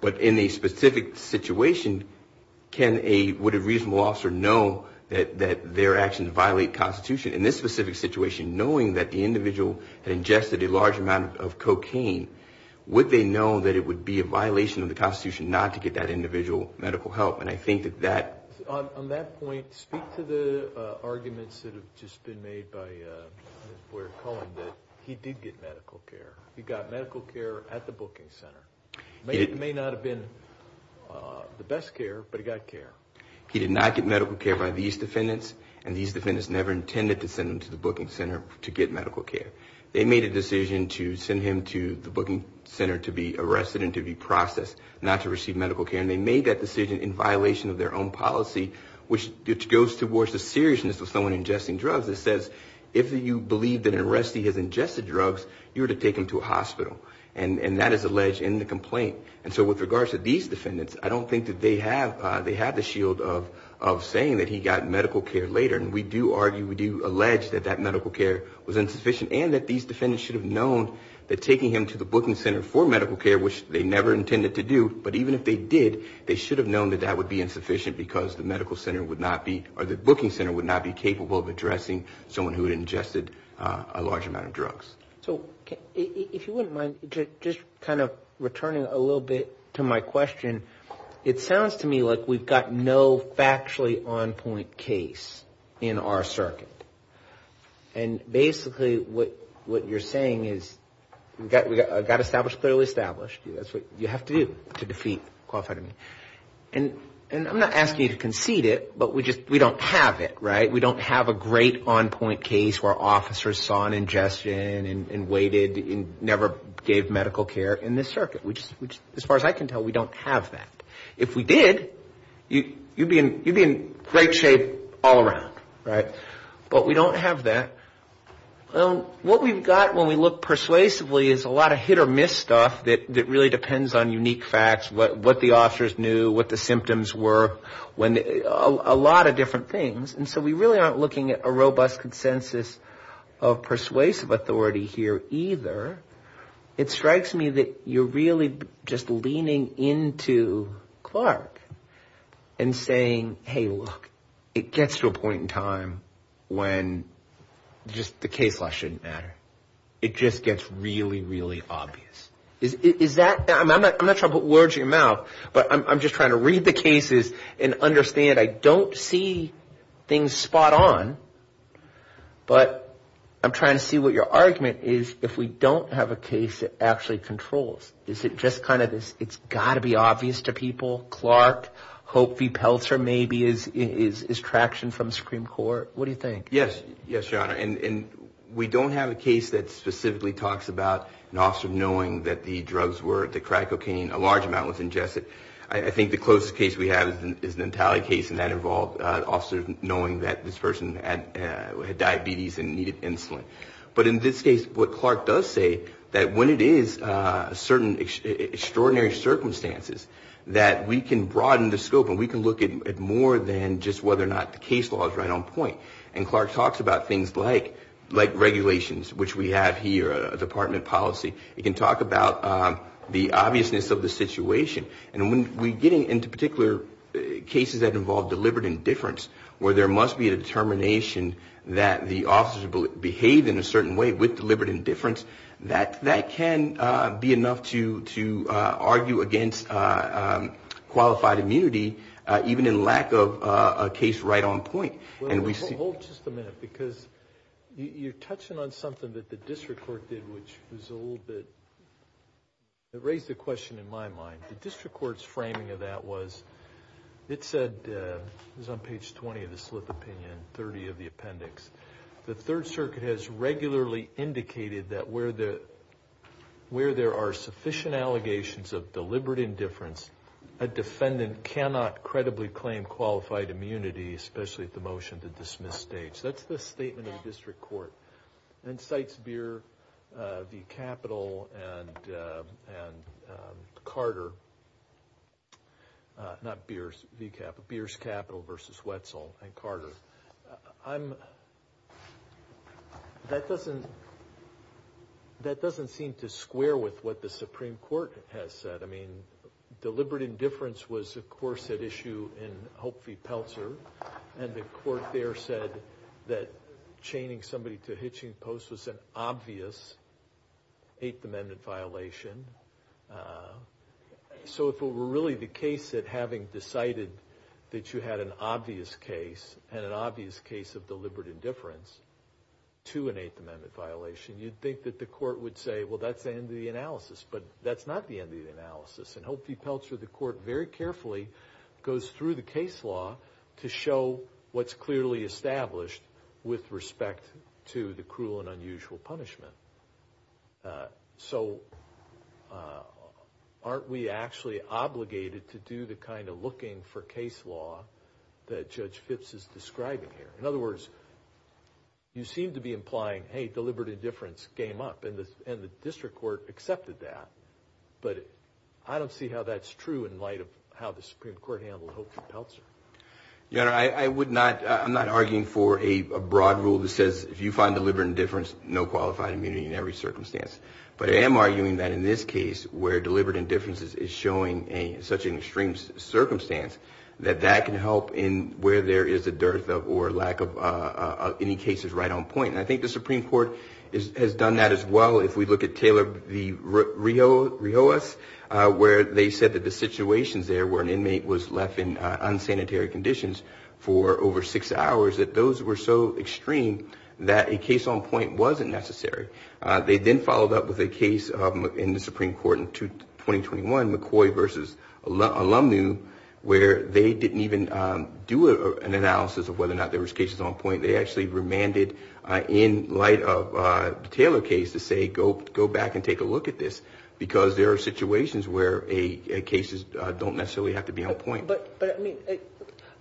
But in a specific situation, would a reasonable officer know that their actions violate constitution? In this specific situation, knowing that the individual had ingested a large amount of cocaine, would they know that it would be a violation of the constitution not to get that individual medical help? And I think that that... On that point, speak to the arguments that have just been made by Ms. Boyer-Cullen that he did get medical care. He got medical care at the booking center. It may not have been the best care, but he got care. He did not get medical care by these defendants. And these defendants never intended to send him to the booking center to get medical care. They made a decision to send him to the booking center to be arrested and to be processed, not to receive medical care. And they made that decision in violation of their own policy, which goes towards the seriousness of someone ingesting drugs. It says, if you believe that an arrestee has ingested drugs, you are to take him to a hospital. And that is alleged in the complaint. And so with regards to these defendants, I don't think that they have the shield of saying that he got medical care later. And we do argue, we do allege that that medical care was insufficient and that these defendants should have known that taking him to the booking center for medical care, which they never intended to do, but even if they did, they should have known that that would be insufficient because the medical center would not be... Or the booking center would not be capable of addressing someone who had ingested a large amount of drugs. So if you wouldn't mind just kind of returning a little bit to my question, it sounds to me like we've got no factually on point case in our circuit. And basically what you're saying is we got established, clearly established. That's what you have to do to defeat qualified immunity. And I'm not asking you to concede it, but we just, we don't have it, right? We don't have a great on point case where officers saw an ingestion and waited and never gave medical care in this circuit, which as far as I can tell, we don't have that. If we did, you'd be in great shape all around, right? But we don't have that. Well, what we've got when we look persuasively is a lot of hit or miss stuff that really depends on unique facts, what the officers knew, what the symptoms were, a lot of different things. And so we really aren't looking at a robust consensus of persuasive authority here either. It strikes me that you're really just leaning into Clark and saying, hey, look, it gets to a point in time when just the case law shouldn't matter. It just gets really, really obvious. Is that, I'm not trying to put words in your mouth, but I'm just trying to read the cases and understand. I don't see things spot on, but I'm trying to see what your argument is if we don't have a case that actually controls. Is it just kind of this, it's got to be obvious to people, Clark, Hope v. Peltzer maybe is traction from the Supreme Court. What do you think? Yes. Yes, Your Honor. And we don't have a case that specifically talks about an officer knowing that the drugs were, the crack cocaine, a large amount was ingested. I think the closest case we have is the Natale case and that involved officers knowing that this person had diabetes and needed insulin. But in this case, what Clark does say that when it is certain extraordinary circumstances that we can broaden the scope and we can look at more than just whether or not the case law is right on point. And Clark talks about things like regulations, which we have here, department policy. He can talk about the obviousness of the situation. And when we're getting into particular cases that involve deliberate indifference, where there must be a determination that the officers behave in a certain way with deliberate indifference, that can be enough to argue against qualified immunity, even in lack of a case right on point. Well, hold just a minute, because you're touching on something that the district court did, which was a little bit, it raised a question in my mind. The district court's framing of that was, it said, it was on page 20 of the slip opinion, 30 of the appendix. The Third Circuit has regularly indicated that where there are sufficient allegations of deliberate indifference, a defendant cannot credibly claim qualified immunity, especially at the motion to dismiss stage. That's the statement of the district court. And cites Beer v. Capital and Carter, not Beer's v. Capital, Beer's Capital versus Wetzel and Carter. I'm, that doesn't, that doesn't seem to square with what the Supreme Court has said. I mean, deliberate indifference was, of course, at issue in Hope v. Peltzer. And the court there said that chaining somebody to hitching posts was an obvious Eighth Amendment violation. So if it were really the case that having decided that you had an obvious case, and an obvious case of deliberate indifference to an Eighth Amendment violation, you'd think that the court would say, well, that's the end of the analysis. But that's not the end of the analysis. And Hope v. Peltzer, the court very carefully goes through the case law to show what's clearly established with respect to the cruel and unusual punishment. So aren't we actually obligated to do the kind of looking for case law that Judge Phipps is describing here? In other words, you seem to be implying, hey, deliberate indifference came up, and the district court accepted that. But I don't see how that's true in light of how the Supreme Court handled Hope v. Peltzer. Your Honor, I'm not arguing for a broad rule that says, if you find deliberate indifference, no qualified immunity in every circumstance. But I am arguing that in this case, where deliberate indifference is showing such an extreme circumstance, that that can help in where there is a dearth or lack of any cases right on point. And I think the Supreme Court has done that as well. If we look at Taylor v. Rios, where they said that the situations there where an inmate was left in unsanitary conditions for over six hours, that those were so extreme that a case on point wasn't necessary. They then followed up with a case in the Supreme Court in 2021, McCoy v. Alumnu, where they didn't even do an analysis of whether or not there was cases on point. They actually remanded in light of the Taylor case to say, go back and take a look at this. Because there are situations where cases don't necessarily have to be on point. But I mean,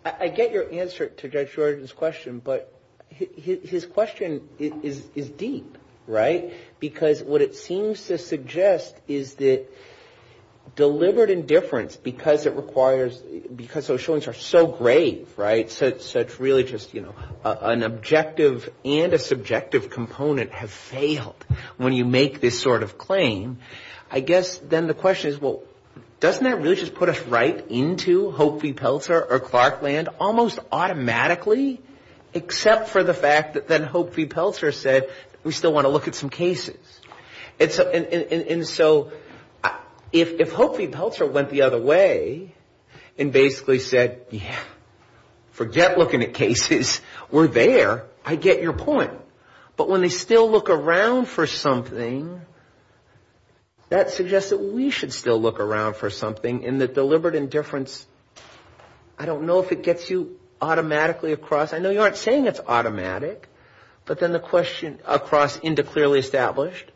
I get your answer to Judge Jordan's question. But his question is deep, right? Because what it seems to suggest is that deliberate indifference, because it requires, because those showings are so grave, right? So it's really just an objective and a subjective component have failed when you make this sort of claim. I guess then the question is, well, doesn't that really just put us right into Hope v. Peltzer or Clarkland almost automatically? Except for the fact that then Hope v. Peltzer said, we still want to look at some cases. And so if Hope v. Peltzer went the other way and basically said, yeah, forget looking at cases. We're there. I get your point. But when they still look around for something, that suggests that we should still look around for something in the deliberate indifference. I don't know if it gets you automatically across. I know you aren't saying it's automatic. But then the question across into clearly established,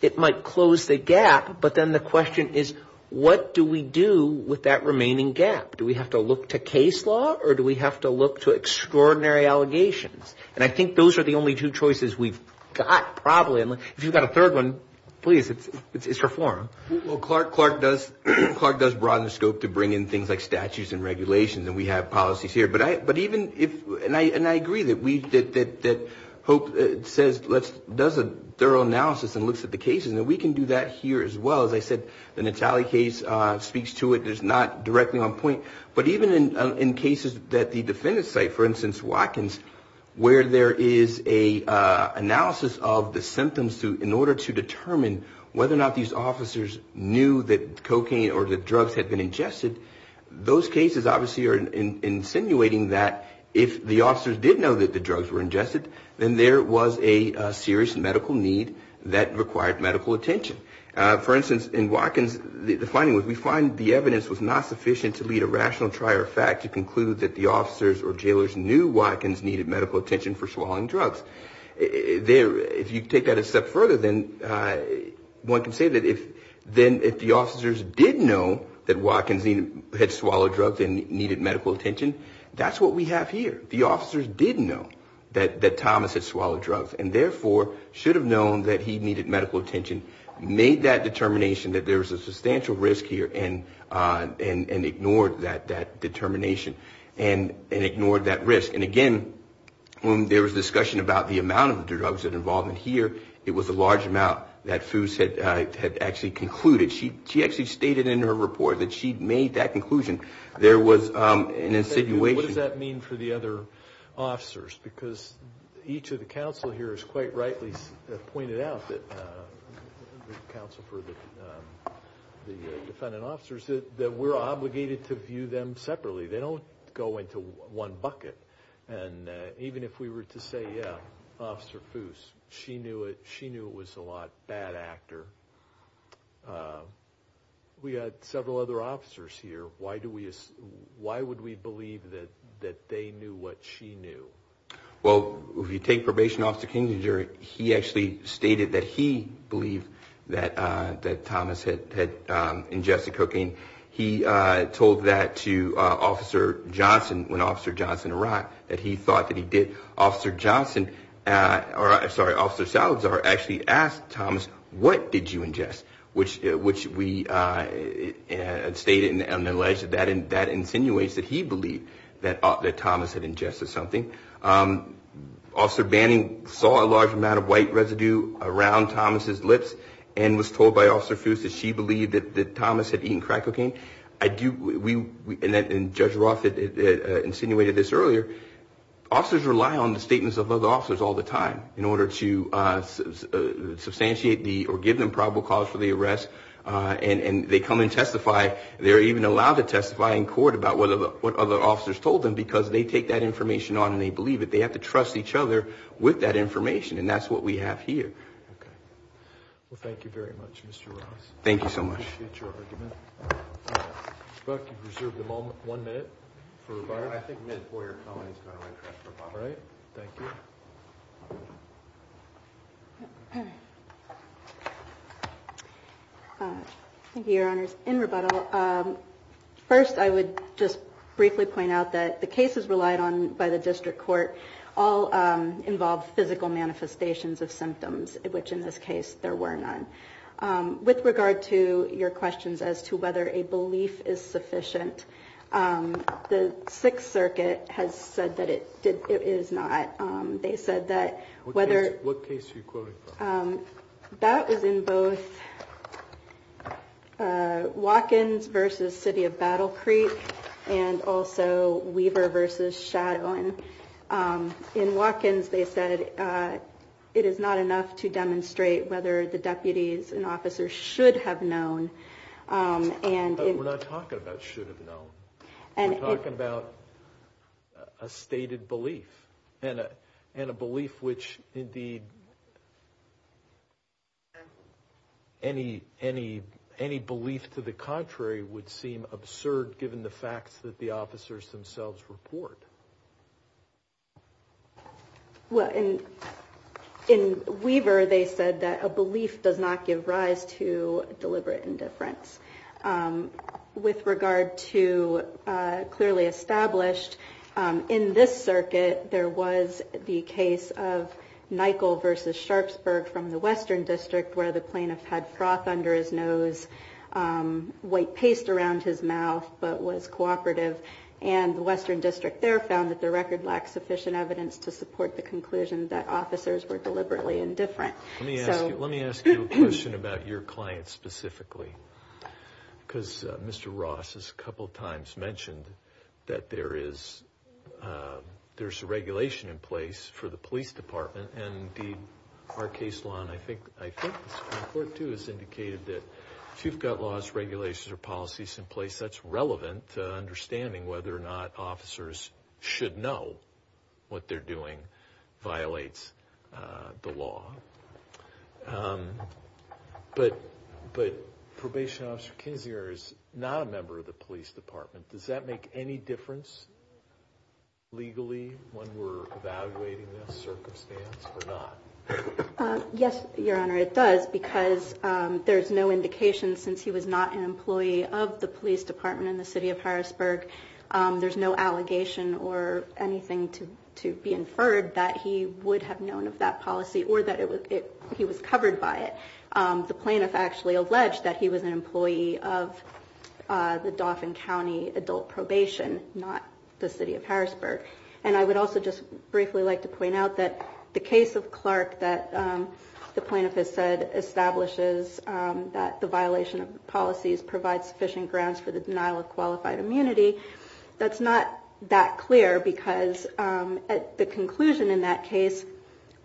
it might close the gap. But then the question is, what do we do with that remaining gap? Do we have to look to case law or do we have to look to extraordinary allegations? And I think those are the only two choices we've got, probably. And if you've got a third one, please, it's reform. Well, Clark does broaden the scope to bring in things like statutes and regulations. And we have policies here. But even if, and I agree that Hope does a thorough analysis and looks at the cases. And we can do that here as well. As I said, the Natale case speaks to it. It's not directly on point. But even in cases that the defendant's site, for instance, Watkins, where there is a analysis of the symptoms in order to determine whether or not these officers knew that cocaine or drugs had been ingested, those cases obviously are insinuating that if the officers did know that the drugs were ingested, then there was a serious medical need that required medical attention. For instance, in Watkins, the finding was, we find the evidence was not sufficient to lead a rational try or fact to conclude that the officers or jailers knew Watkins needed medical attention for swallowing drugs. There, if you take that a step further, then one can say that if the officers did know that Watkins had swallowed drugs and needed medical attention, that's what we have here. The officers did know that Thomas had swallowed drugs and therefore should have known that he needed medical attention, made that determination that there was a substantial risk here and ignored that determination and ignored that risk. And again, when there was discussion about the amount of drugs that are involved in here, it was a large amount that Foos had actually concluded. She actually stated in her report that she'd made that conclusion. There was an insinuation. What does that mean for the other officers? Because each of the counsel here has quite rightly pointed out, the counsel for the defendant officers, that we're obligated to view them separately. They don't go into one bucket. And even if we were to say, yeah, Officer Foos, she knew it. She knew it was a lot bad actor. We had several other officers here. Why do we, why would we believe that they knew what she knew? Well, if you take Probation Officer Kingenjury, he actually stated that he believed that Thomas had ingested cocaine. He told that to Officer Johnson when Officer Johnson arrived, that he thought that he did. Officer Johnson, sorry, Officer Salazar actually asked Thomas, what did you ingest? Which we stated and alleged that that insinuates that he believed that Thomas had ingested something. Officer Banning saw a large amount of white residue around Thomas's lips and was told by him that he had ingested cocaine. I do, and Judge Roth insinuated this earlier, officers rely on the statements of other officers all the time in order to substantiate or give them probable cause for the arrest. And they come and testify. They're even allowed to testify in court about what other officers told them because they take that information on and they believe it. They have to trust each other with that information. And that's what we have here. Well, thank you very much, Mr. Ross. Thank you so much. I appreciate your argument. Brooke, you've reserved one minute for rebuttal. I think a minute for your comment is going to run short. All right. Thank you. Thank you, Your Honors. In rebuttal, first, I would just briefly point out that the cases relied on by the district court all involved physical manifestations of symptoms, which in this case there were none. With regard to your questions as to whether a belief is sufficient, the Sixth Circuit has said that it is not. They said that whether- What case are you quoting from? That was in both Watkins versus City of Battle Creek and also Weaver versus Shadown. In Watkins, they said it is not enough to demonstrate whether the deputies and officers should have known. But we're not talking about should have known. We're talking about a stated belief and a belief which, indeed, any belief to the contrary would seem absurd given the facts that the officers themselves report. Well, in Weaver, they said that a belief does not give rise to deliberate indifference. With regard to clearly established, in this circuit, there was the case of Nychol versus Sharpsburg from the Western District where the plaintiff had froth under his nose, white paste around his mouth, but was cooperative. And the Western District there found that the record lacked sufficient evidence to support the conclusion that officers were deliberately indifferent. Let me ask you a question about your client specifically, because Mr. Ross has a couple of times mentioned that there is a regulation in place for the police department. And indeed, our case law, and I think this report too, has indicated that if you've got regulations or policies in place, that's relevant to understanding whether or not officers should know what they're doing violates the law. But Probation Officer Kinzinger is not a member of the police department. Does that make any difference legally when we're evaluating this circumstance or not? Yes, Your Honor, it does. Because there's no indication since he was not an employee of the police department in the city of Harrisburg, there's no allegation or anything to be inferred that he would have known of that policy or that he was covered by it. The plaintiff actually alleged that he was an employee of the Dauphin County Adult Probation, not the city of Harrisburg. And I would also just briefly like to point out that the case of Clark that the plaintiff has said establishes that the violation of policies provides sufficient grounds for the denial of qualified immunity, that's not that clear. Because the conclusion in that case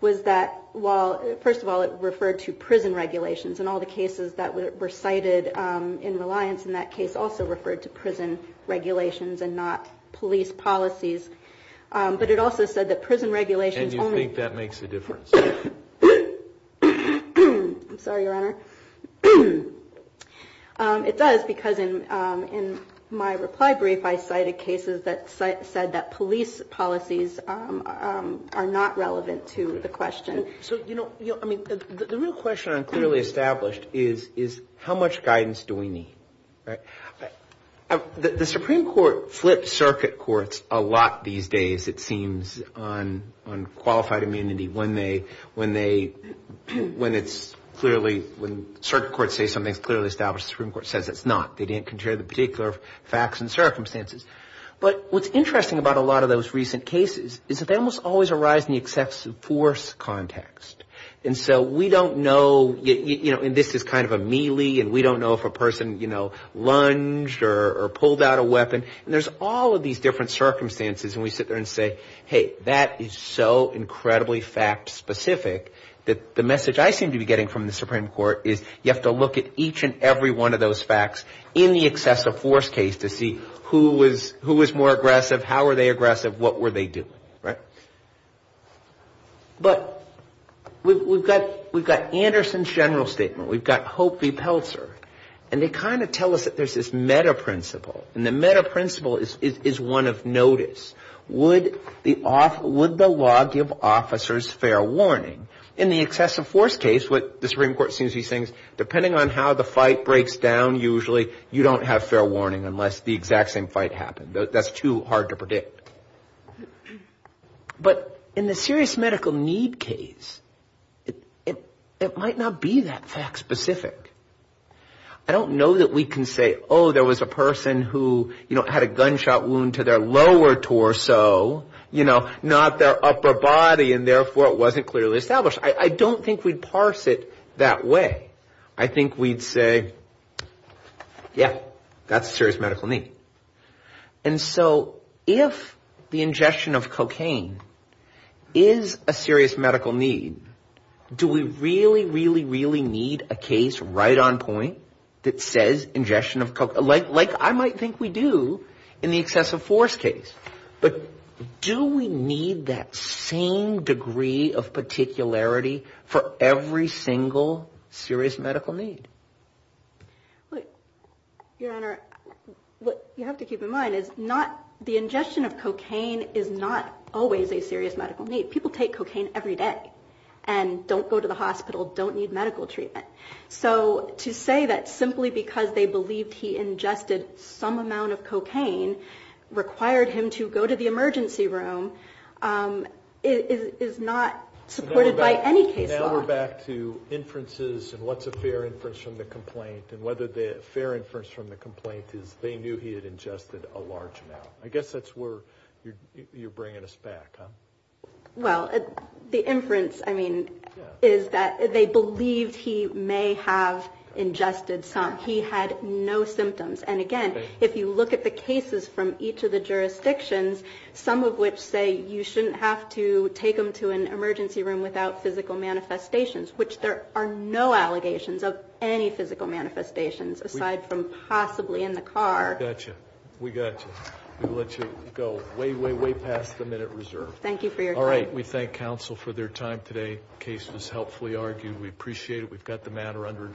was that, well, first of all, it referred to prison regulations and all the cases that were cited in reliance in that case also referred to but it also said that prison regulations... And you think that makes a difference? I'm sorry, Your Honor. It does because in my reply brief, I cited cases that said that police policies are not relevant to the question. So, you know, I mean, the real question I'm clearly established is, is how much guidance do we need? Right. The Supreme Court flips circuit courts a lot these days, it seems, on qualified immunity when they, when it's clearly, when circuit courts say something is clearly established, the Supreme Court says it's not. They didn't consider the particular facts and circumstances. But what's interesting about a lot of those recent cases is that they almost always arise in the excessive force context. And so we don't know, you know, and this is kind of a melee and we don't know if a person, you know, lunged or pulled out a weapon. And there's all of these different circumstances and we sit there and say, hey, that is so incredibly fact specific that the message I seem to be getting from the Supreme Court is you have to look at each and every one of those facts in the excessive force case to see who was, who was more aggressive, how were they aggressive, what were they doing? Right. But we've got, we've got Anderson's general statement, we've got Hope v. Pelzer, and they kind of tell us that there's this meta principle and the meta principle is, is one of notice. Would the law give officers fair warning? In the excessive force case, what the Supreme Court seems to be saying is depending on how the fight breaks down, usually you don't have fair warning unless the exact same fight happened. That's too hard to predict. But in the serious medical need case, it might not be that fact specific. I don't know that we can say, oh, there was a person who, you know, had a gunshot wound to their lower torso, you know, not their upper body and therefore it wasn't clearly established. I don't think we'd parse it that way. I think we'd say, yeah, that's a serious medical need. And so if the ingestion of cocaine is a serious medical need, do we really, really, really need a case right on point that says ingestion of cocaine, like I might think we do in the excessive force case. But do we need that same degree of particularity for every single serious medical need? Well, Your Honor, what you have to keep in mind is not the ingestion of cocaine is not always a serious medical need. People take cocaine every day and don't go to the hospital, don't need medical treatment. So to say that simply because they believed he ingested some amount of cocaine required him to go to the emergency room is not supported by any case law. Now we're back to inferences and what's a fair inference from the complaint and whether the fair inference from the complaint is they knew he had ingested a large amount. I guess that's where you're bringing us back, huh? Well, the inference, I mean, is that they believed he may have ingested some. He had no symptoms. And again, if you look at the cases from each of the jurisdictions, some of which say you shouldn't have to take them to an emergency room without physical manifestations, which there are no allegations of any physical manifestations aside from possibly in the car. We got you. We got you. We'll let you go way, way, way past the minute reserve. Thank you for your time. All right. We thank counsel for their time today. Case was helpfully argued. We appreciate it. We've got the matter under